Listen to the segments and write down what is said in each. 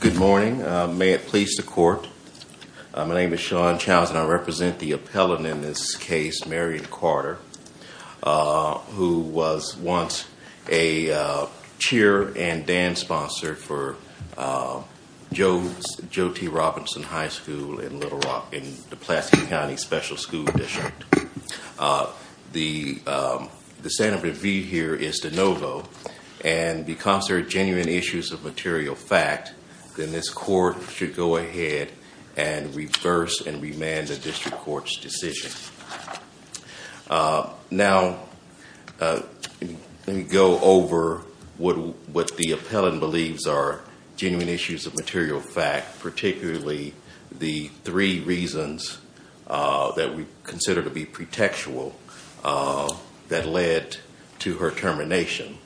Good morning. May it please the court, my name is Sean Chowns and I represent the appellant in this case, Marion Carter, who was once a cheer and dance sponsor for J.T. Robinson High School in Little Rock in the Pulaski County Special School District. The standard of review here is de novo, and because there are genuine issues of material fact, then this court should go ahead and reverse and remand the district court's decision. Now, let me go over what the appellant believes are genuine issues of material fact, particularly the three reasons that we consider to be pretextual that led to her termination.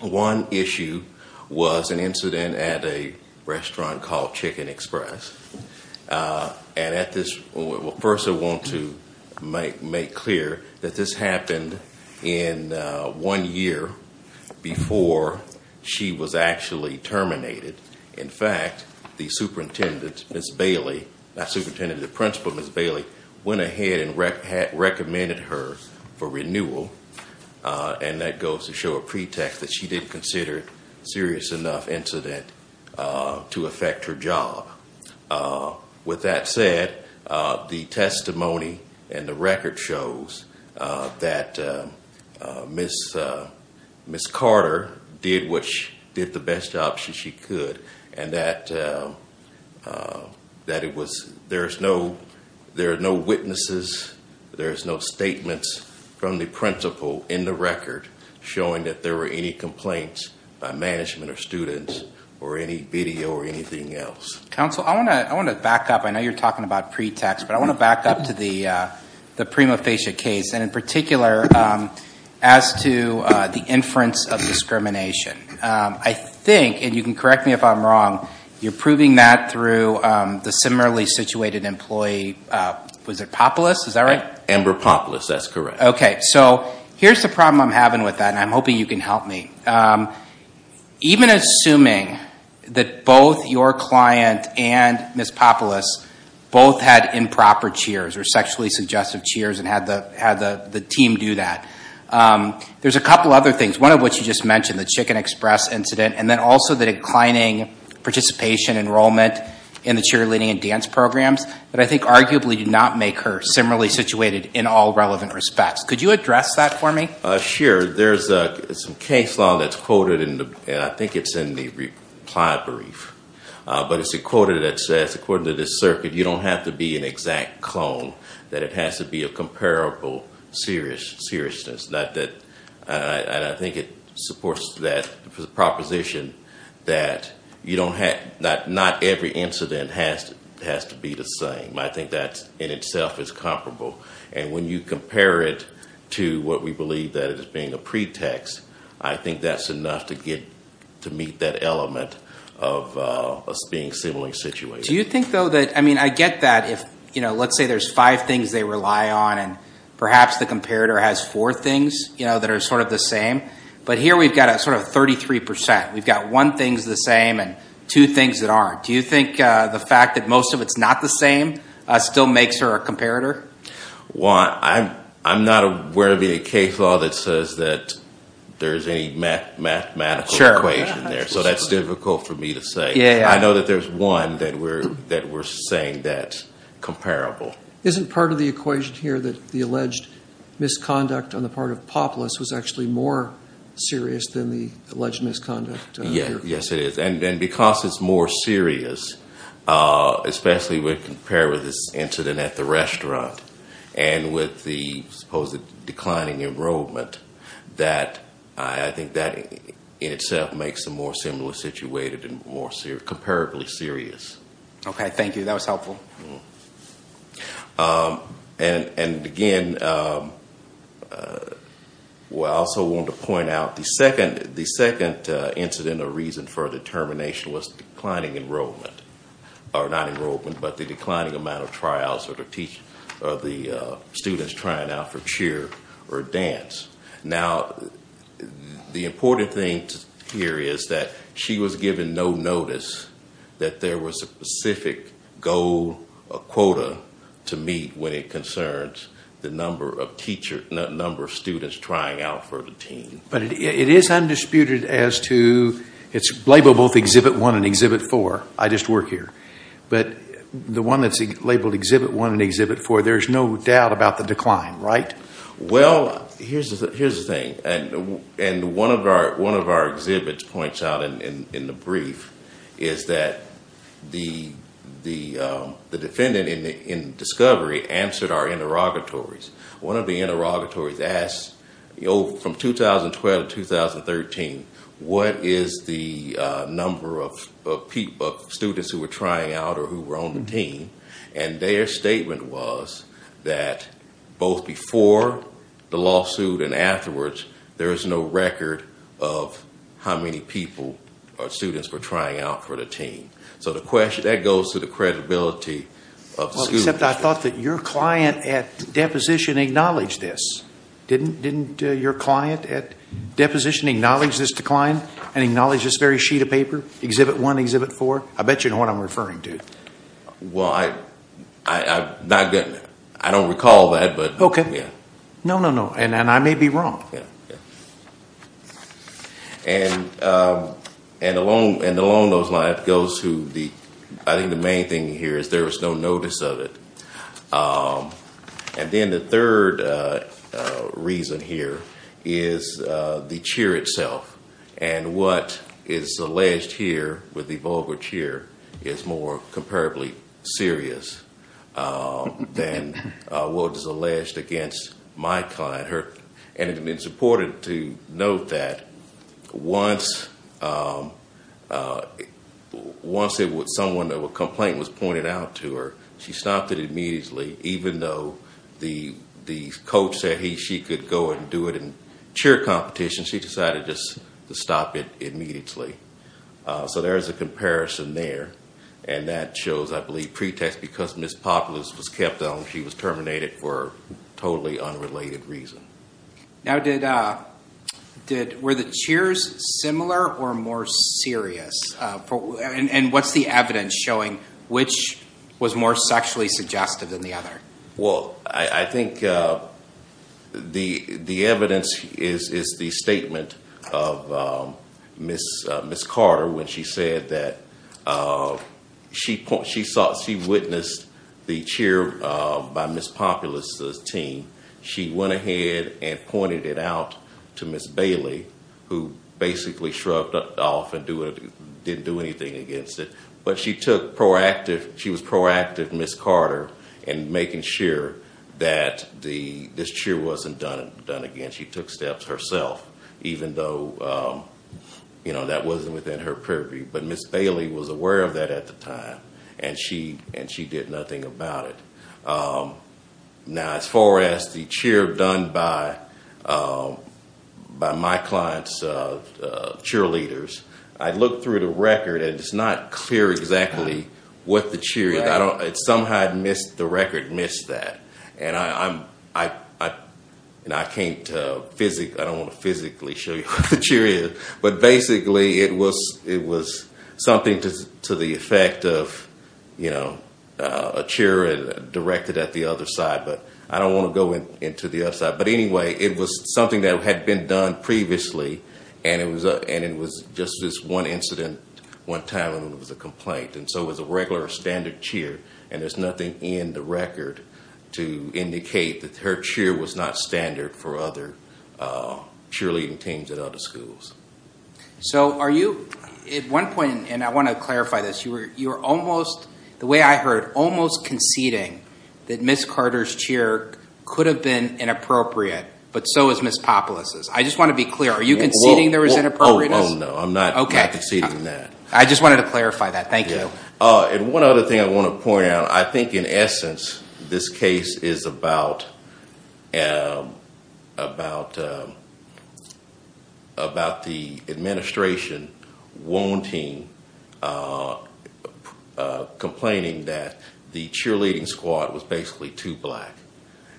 One issue was an incident at a restaurant called Chicken Express, and at this, first I want to make clear that this happened in one year before she was actually terminated. In fact, the principal, Ms. Bailey, went ahead and recommended her for renewal, and that goes to show a pretext that she didn't consider a serious enough incident to affect her job. With that said, the testimony and the record shows that Ms. Carter did the best job she could, and that there are no witnesses, there are no statements from the principal in the record showing that there were any complaints by management or students or any video or anything else. Counsel, I want to back up. I know you're talking about pretext, but I want to back up to the prima facie case, and in particular, as to the inference of discrimination. I think, and you can correct me if I'm wrong, you're proving that through the similarly situated employee, was it Popolis? Is that right? Amber Popolis, that's correct. Okay. So here's the problem I'm having with that, and I'm hoping you can help me. Even assuming that both your client and Ms. Popolis both had improper cheers or sexually suggestive cheers and had the team do that, there's a couple other things. One of which you just mentioned, the Chicken Express incident, and then also the declining participation enrollment in the cheerleading and dance programs that I think arguably do not make her similarly situated in all relevant respects. Could you address that for me? Sure. There's some case law that's quoted, and I think it's in the reply brief. But it's a quote that says, according to this circuit, you don't have to be an exact clone, that it has to be a comparable seriousness. And I think it supports that proposition that not every incident has to be the same. I think that in itself is comparable. And when you compare it to what we believe that is being a pretext, I think that's enough to meet that element of us being similarly situated. Do you think, though, that – I mean, I get that if, you know, let's say there's five things they rely on and perhaps the comparator has four things that are sort of the same. But here we've got a sort of 33%. We've got one thing's the same and two things that aren't. Do you think the fact that most of it's not the same still makes her a comparator? Well, I'm not aware of any case law that says that there's any mathematical equation there. Sure. So that's difficult for me to say. Yeah, yeah. I know that there's one that we're saying that's comparable. Isn't part of the equation here that the alleged misconduct on the part of Popolis was actually more serious than the alleged misconduct? Yes, it is. And because it's more serious, especially when compared with this incident at the restaurant and with the supposed declining enrollment, that I think that in itself makes them more similarly situated and more comparably serious. Okay, thank you. That was helpful. And, again, I also want to point out the second incident or reason for the termination was declining enrollment. Or not enrollment, but the declining amount of trials or the students trying out for cheer or dance. Now, the important thing here is that she was given no notice that there was a specific goal, a quota to meet when it concerns the number of students trying out for the team. But it is undisputed as to it's labeled both Exhibit 1 and Exhibit 4. I just work here. But the one that's labeled Exhibit 1 and Exhibit 4, there's no doubt about the decline, right? Well, here's the thing. And one of our exhibits points out in the brief is that the defendant in discovery answered our interrogatories. One of the interrogatories asked, from 2012 to 2013, what is the number of students who were trying out or who were on the team? And their statement was that both before the lawsuit and afterwards, there is no record of how many people or students were trying out for the team. So that goes to the credibility of the school district. Well, except I thought that your client at deposition acknowledged this. Didn't your client at deposition acknowledge this decline and acknowledge this very sheet of paper, Exhibit 1, Exhibit 4? I bet you know what I'm referring to. Well, I don't recall that. Okay. No, no, no. And I may be wrong. And along those lines, I think the main thing here is there was no notice of it. And then the third reason here is the chair itself. And what is alleged here with the vulgar chair is more comparably serious than what is alleged against my client. And it's important to note that once someone or a complaint was pointed out to her, she stopped it immediately. Even though the coach said she could go and do it in chair competition, she decided just to stop it immediately. So there is a comparison there. And that shows, I believe, pretext because Ms. Populous was kept on. She was terminated for a totally unrelated reason. Now, were the chairs similar or more serious? And what's the evidence showing which was more sexually suggestive than the other? Well, I think the evidence is the statement of Ms. Carter when she said that she witnessed the chair by Ms. Populous' team. She went ahead and pointed it out to Ms. Bailey, who basically shrugged off and didn't do anything against it. But she was proactive, Ms. Carter, in making sure that this chair wasn't done again. She took steps herself, even though that wasn't within her purview. But Ms. Bailey was aware of that at the time, and she did nothing about it. Now, as far as the chair done by my client's cheerleaders, I looked through the record, and it's not clear exactly what the chair is. Somehow the record missed that. And I can't physically – I don't want to physically show you what the chair is. But basically it was something to the effect of a chair directed at the other side. But I don't want to go into the other side. But anyway, it was something that had been done previously, and it was just this one incident one time, and it was a complaint. And so it was a regular standard cheer, and there's nothing in the record to indicate that her cheer was not standard for other cheerleading teams at other schools. So are you – at one point – and I want to clarify this. You were almost – the way I heard – almost conceding that Ms. Carter's cheer could have been inappropriate, but so is Ms. Populous'. I just want to be clear. Are you conceding there was inappropriateness? Oh, no. I'm not conceding that. I just wanted to clarify that. Thank you. And one other thing I want to point out. I think in essence this case is about the administration wanting – complaining that the cheerleading squad was basically too black.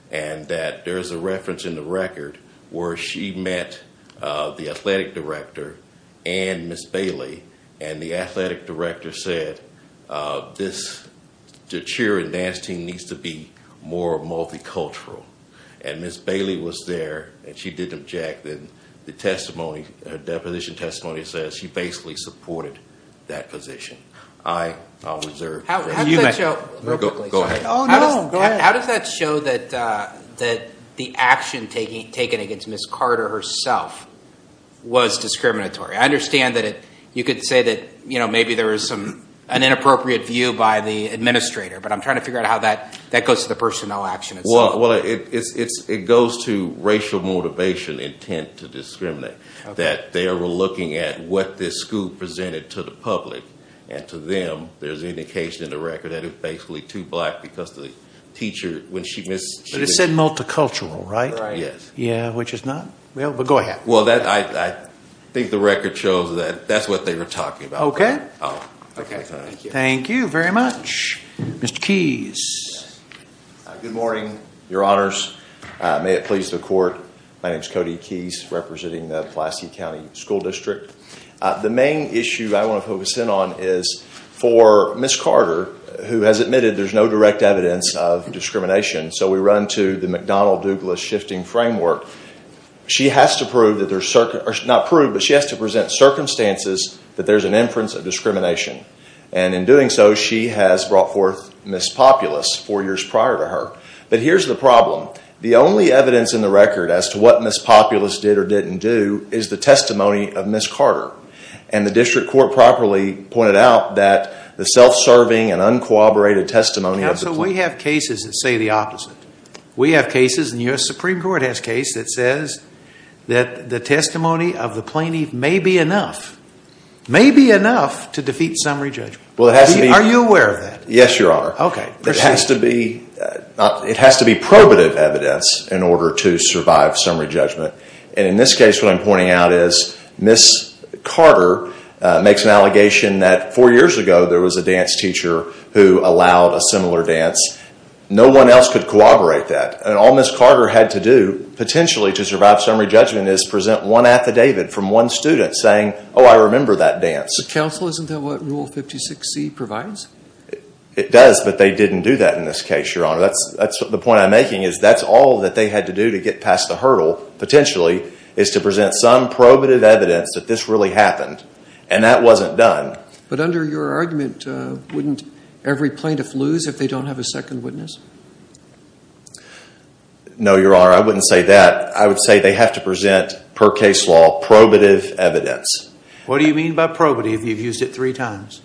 And that there's a reference in the record where she met the athletic director and Ms. Bailey, and the athletic director said this – the cheer and dance team needs to be more multicultural. And Ms. Bailey was there, and she didn't object. And the testimony – her deposition testimony says she basically supported that position. I reserve – How does that show – Go ahead. Oh, no. Go ahead. How does that show that the action taken against Ms. Carter herself was discriminatory? I understand that you could say that maybe there was some – an inappropriate view by the administrator. But I'm trying to figure out how that goes to the personnel action itself. Well, it goes to racial motivation, intent to discriminate. That they were looking at what this school presented to the public. And to them, there's indication in the record that it's basically too black because the teacher – when she – But it said multicultural, right? Right. Yeah, which is not – well, but go ahead. Well, I think the record shows that that's what they were talking about. Okay. Thank you. Thank you very much. Mr. Keys. Good morning, Your Honors. May it please the court. My name is Cody Keys, representing the Pulaski County School District. The main issue I want to focus in on is for Ms. Carter, who has admitted there's no direct evidence of discrimination. So we run to the McDonnell-Douglas shifting framework. She has to prove that there's – not prove, but she has to present circumstances that there's an inference of discrimination. And in doing so, she has brought forth Ms. Populus four years prior to her. But here's the problem. The only evidence in the record as to what Ms. Populus did or didn't do is the testimony of Ms. Carter. And the district court properly pointed out that the self-serving and uncooperated testimony of the – Counsel, we have cases that say the opposite. We have cases – the U.S. Supreme Court has a case that says that the testimony of the plaintiff may be enough – may be enough to defeat summary judgment. Well, it has to be – Are you aware of that? Yes, Your Honor. Okay. It has to be – it has to be probative evidence in order to survive summary judgment. And in this case, what I'm pointing out is Ms. Carter makes an allegation that four years ago there was a dance teacher who allowed a similar dance. No one else could corroborate that. And all Ms. Carter had to do, potentially, to survive summary judgment is present one affidavit from one student saying, oh, I remember that dance. Counsel, isn't that what Rule 56C provides? It does, but they didn't do that in this case, Your Honor. That's the point I'm making is that's all that they had to do to get past the hurdle, potentially, is to present some probative evidence that this really happened. And that wasn't done. But under your argument, wouldn't every plaintiff lose if they don't have a second witness? No, Your Honor. I wouldn't say that. I would say they have to present, per case law, probative evidence. What do you mean by probative? You've used it three times.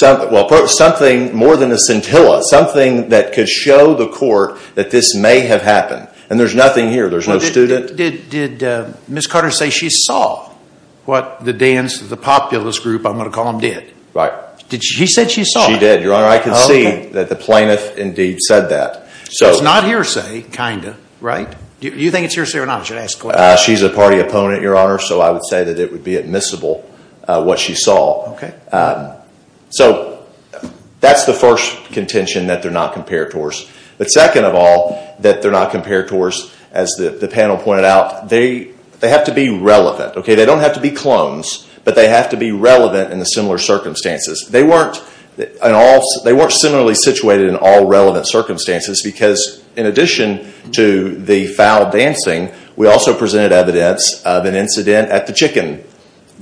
Well, something more than a scintilla, something that could show the court that this may have happened. And there's nothing here. There's no student. Did Ms. Carter say she saw what the dance, the populist group, I'm going to call them, did? Right. She said she saw it. She did, Your Honor. I can see that the plaintiff indeed said that. So it's not hearsay, kind of, right? Do you think it's hearsay or not? I should ask the question. She's a party opponent, Your Honor, so I would say that it would be admissible what she saw. So that's the first contention that they're not comparators. But second of all, that they're not comparators, as the panel pointed out, they have to be relevant. They don't have to be clones, but they have to be relevant in the similar circumstances. They weren't similarly situated in all relevant circumstances because, in addition to the foul dancing, we also presented evidence of an incident at the chicken,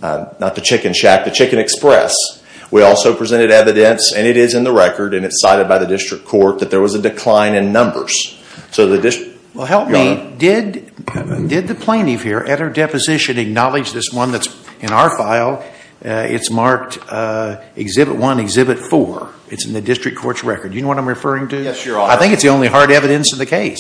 not the chicken shack, the chicken express. We also presented evidence, and it is in the record, and it's cited by the district court, that there was a decline in numbers. So the district, Your Honor. Well, help me. Did the plaintiff here, at her deposition, acknowledge this one that's in our file? It's marked Exhibit 1, Exhibit 4. It's in the district court's record. Do you know what I'm referring to? Yes, Your Honor. I think it's the only hard evidence in the case.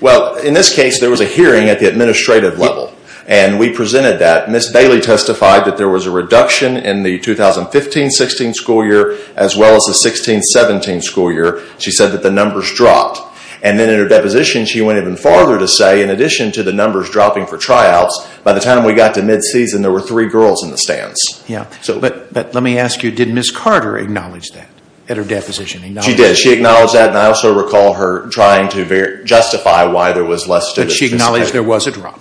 Well, in this case, there was a hearing at the administrative level, and we presented that. Ms. Bailey testified that there was a reduction in the 2015-16 school year as well as the 16-17 school year. She said that the numbers dropped. And then in her deposition, she went even farther to say, in addition to the numbers dropping for tryouts, by the time we got to mid-season, there were three girls in the stands. But let me ask you, did Ms. Carter acknowledge that at her deposition? She did. She acknowledged that, and I also recall her trying to justify why there was less to the district. But she acknowledged there was a drop.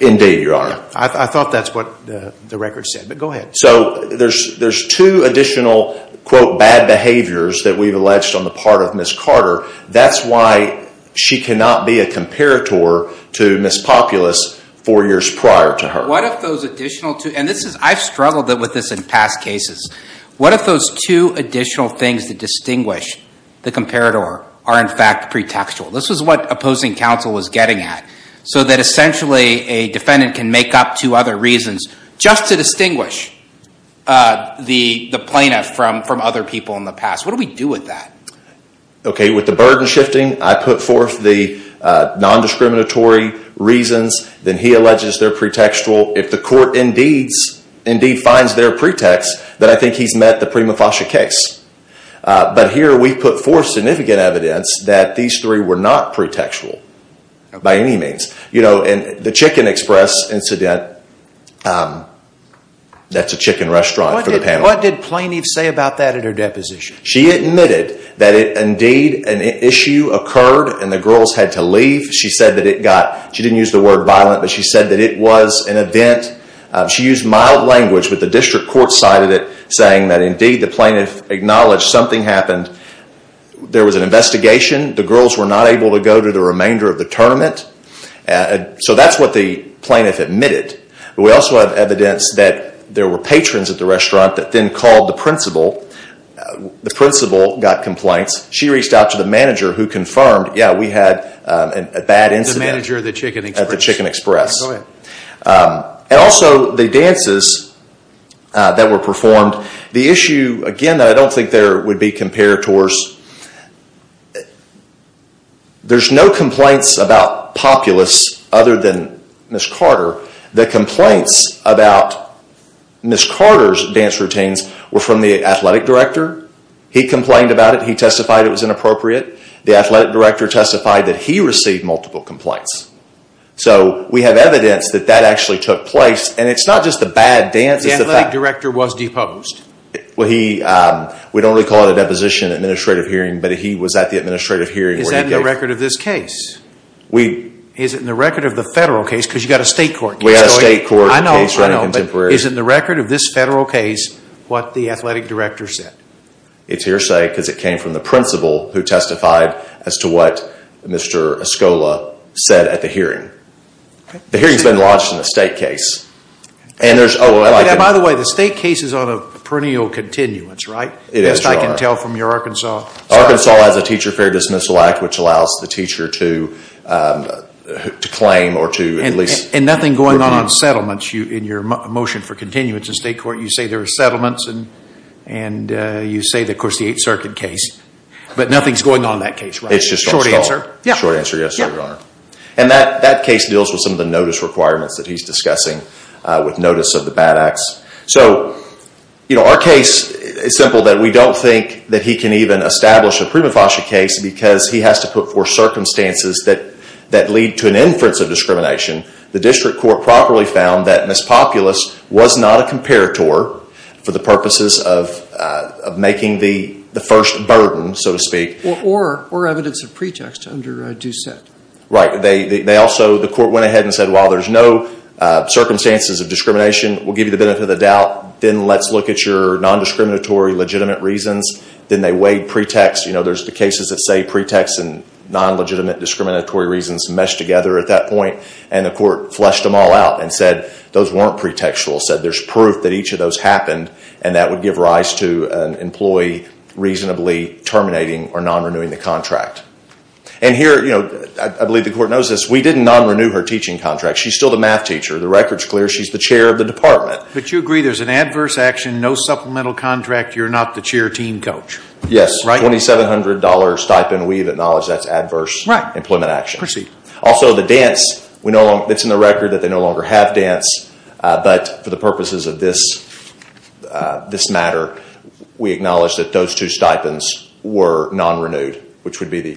Indeed, Your Honor. I thought that's what the record said. But go ahead. So there's two additional, quote, bad behaviors that we've alleged on the part of Ms. Carter. That's why she cannot be a comparator to Ms. Populus four years prior to her. What if those additional two, and this is, I've struggled with this in past cases. What if those two additional things that distinguish the comparator are, in fact, pretextual? This is what opposing counsel was getting at, so that essentially a defendant can make up two other reasons just to distinguish the plaintiff from other people in the past. What do we do with that? Okay, with the burden shifting, I put forth the nondiscriminatory reasons. Then he alleges they're pretextual. If the court indeed finds they're pretext, then I think he's met the prima facie case. But here we put forth significant evidence that these three were not pretextual by any means. You know, the Chicken Express incident, that's a chicken restaurant for the panel. What did plaintiff say about that at her deposition? She admitted that indeed an issue occurred and the girls had to leave. She said that it got, she didn't use the word violent, but she said that it was an event. She used mild language, but the district court cited it, saying that indeed the plaintiff acknowledged something happened. There was an investigation. The girls were not able to go to the remainder of the tournament. So that's what the plaintiff admitted. But we also have evidence that there were patrons at the restaurant that then called the principal. The principal got complaints. She reached out to the manager who confirmed, yeah, we had a bad incident. The manager of the Chicken Express. At the Chicken Express. And also the dances that were performed. The issue, again, that I don't think there would be compared towards, there's no complaints about populace other than Ms. Carter. The complaints about Ms. Carter's dance routines were from the athletic director. He complained about it. He testified it was inappropriate. The athletic director testified that he received multiple complaints. So we have evidence that that actually took place. And it's not just a bad dance. The athletic director was deposed. We don't really call it a deposition in an administrative hearing, but he was at the administrative hearing. Is that in the record of this case? Is it in the record of the federal case? Because you've got a state court case. We've got a state court case running contemporary. I know, but is it in the record of this federal case what the athletic director said? It's hearsay because it came from the principal who testified as to what Mr. Escola said at the hearing. The hearing's been lodged in a state case. By the way, the state case is on a perennial continuance, right? At least I can tell from your Arkansas. Arkansas has a Teacher Fair Dismissal Act which allows the teacher to claim or to at least review. And nothing going on on settlements in your motion for continuance in state court? You say there are settlements, and you say, of course, the Eighth Circuit case. But nothing's going on in that case, right? It's just all stalled. Short answer? Short answer, yes, Your Honor. And that case deals with some of the notice requirements that he's discussing with notice of the bad acts. So, you know, our case is simple that we don't think that he can even establish a prima facie case because he has to put forth circumstances that lead to an inference of discrimination. The district court properly found that Miss Populous was not a comparator for the purposes of making the first burden, so to speak. Or evidence of pretext under Doucette. Right. They also, the court went ahead and said, well, there's no circumstances of discrimination. We'll give you the benefit of the doubt. Then let's look at your non-discriminatory legitimate reasons. Then they weighed pretext. You know, there's the cases that say pretext and non-legitimate discriminatory reasons mesh together at that point. And the court fleshed them all out and said those weren't pretextual. Said there's proof that each of those happened and that would give rise to an employee reasonably terminating or non-renewing the contract. And here, you know, I believe the court knows this. We didn't non-renew her teaching contract. She's still the math teacher. The record's clear. She's the chair of the department. But you agree there's an adverse action, no supplemental contract. You're not the chair team coach. Yes. $2,700 stipend. We acknowledge that's adverse employment action. Right. It's in the record that they no longer have dance. But for the purposes of this matter, we acknowledge that those two stipends were non-renewed.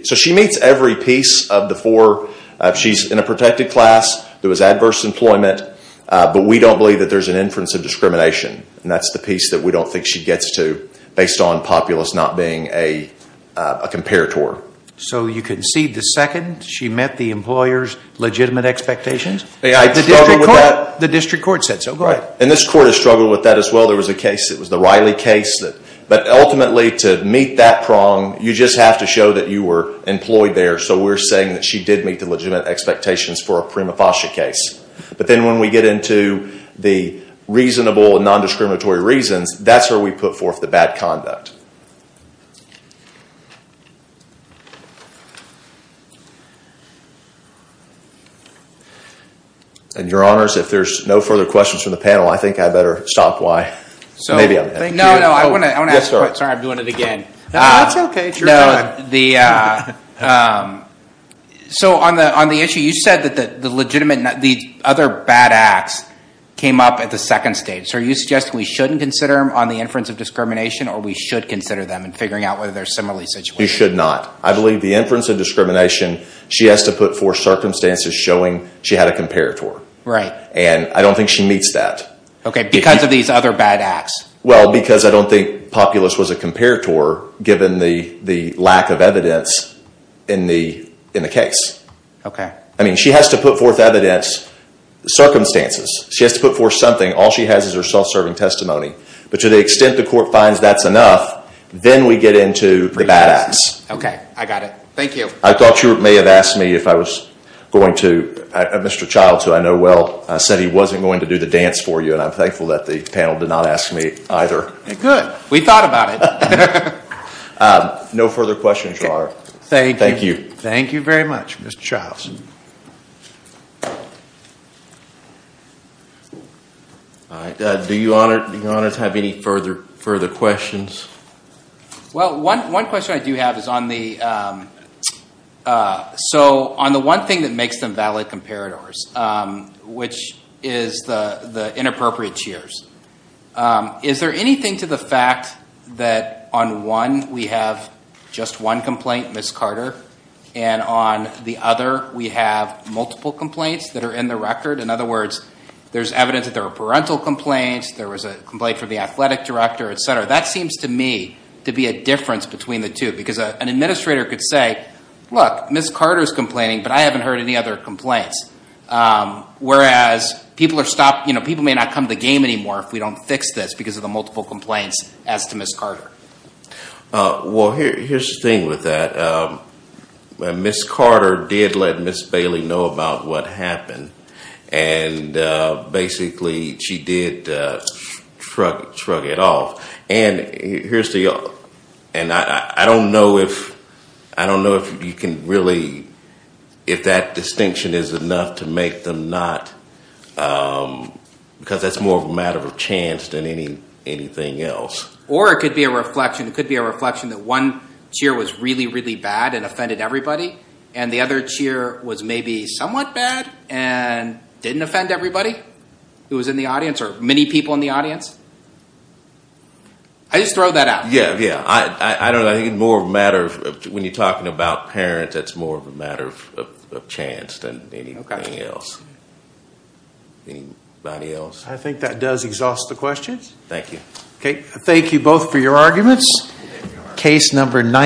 So she meets every piece of the four. She's in a protected class. There was adverse employment. But we don't believe that there's an inference of discrimination. And that's the piece that we don't think she gets to based on populace not being a comparator. So you concede the second. She met the employer's legitimate expectations? The district court said so. Go ahead. And this court has struggled with that as well. There was a case. It was the Riley case. But ultimately, to meet that prong, you just have to show that you were employed there. So we're saying that she did meet the legitimate expectations for a prima facie case. But then when we get into the reasonable and non-discriminatory reasons, that's where we put forth the bad conduct. And your honors, if there's no further questions from the panel, I think I better stop why. No, no. I want to ask a question. Sorry, I'm doing it again. No, that's okay. It's your turn. So on the issue, you said that the legitimate, the other bad acts came up at the second stage. So are you suggesting we shouldn't consider them on the inference of discrimination or we should consider them and figuring out whether they're similarly situated? You should not. I believe the inference of discrimination, she has to put forth circumstances showing she had a comparator. Right. And I don't think she meets that. Okay. Because of these other bad acts. Well, because I don't think Populous was a comparator given the lack of evidence in the case. Okay. I mean, she has to put forth evidence, circumstances. She has to put forth something. All she has is her self-serving testimony. But to the extent the court finds that's enough, then we get into the bad acts. Okay. I got it. Thank you. I thought you may have asked me if I was going to, Mr. Childs, who I know well, said he wasn't going to do the dance for you. And I'm thankful that the panel did not ask me either. Good. We thought about it. No further questions, Your Honor. Thank you. Thank you. Thank you very much, Mr. Childs. All right. Do you, Your Honor, have any further questions? Well, one question I do have is on the one thing that makes them valid comparators, which is the inappropriate cheers. Is there anything to the fact that on one we have just one complaint, Ms. Carter, and on the other we have multiple complaints that are in the record? In other words, there's evidence that there were parental complaints. There was a complaint from the athletic director, et cetera. That seems to me to be a difference between the two. Because an administrator could say, look, Ms. Carter is complaining, but I haven't heard any other complaints. Whereas people may not come to the game anymore if we don't fix this because of the multiple complaints as to Ms. Carter. Well, here's the thing with that. Ms. Carter did let Ms. Bailey know about what happened. And basically she did shrug it off. And I don't know if you can really, if that distinction is enough to make them not, because that's more of a matter of chance than anything else. Or it could be a reflection. It could be a reflection that one cheer was really, really bad and offended everybody. And the other cheer was maybe somewhat bad and didn't offend everybody who was in the audience or many people in the audience. I just throw that out. Yeah, yeah. I don't know. I think it's more of a matter of, when you're talking about parents, it's more of a matter of chance than anything else. Anybody else? I think that does exhaust the questions. Thank you. Okay. Thank you both for your arguments. Case number 19.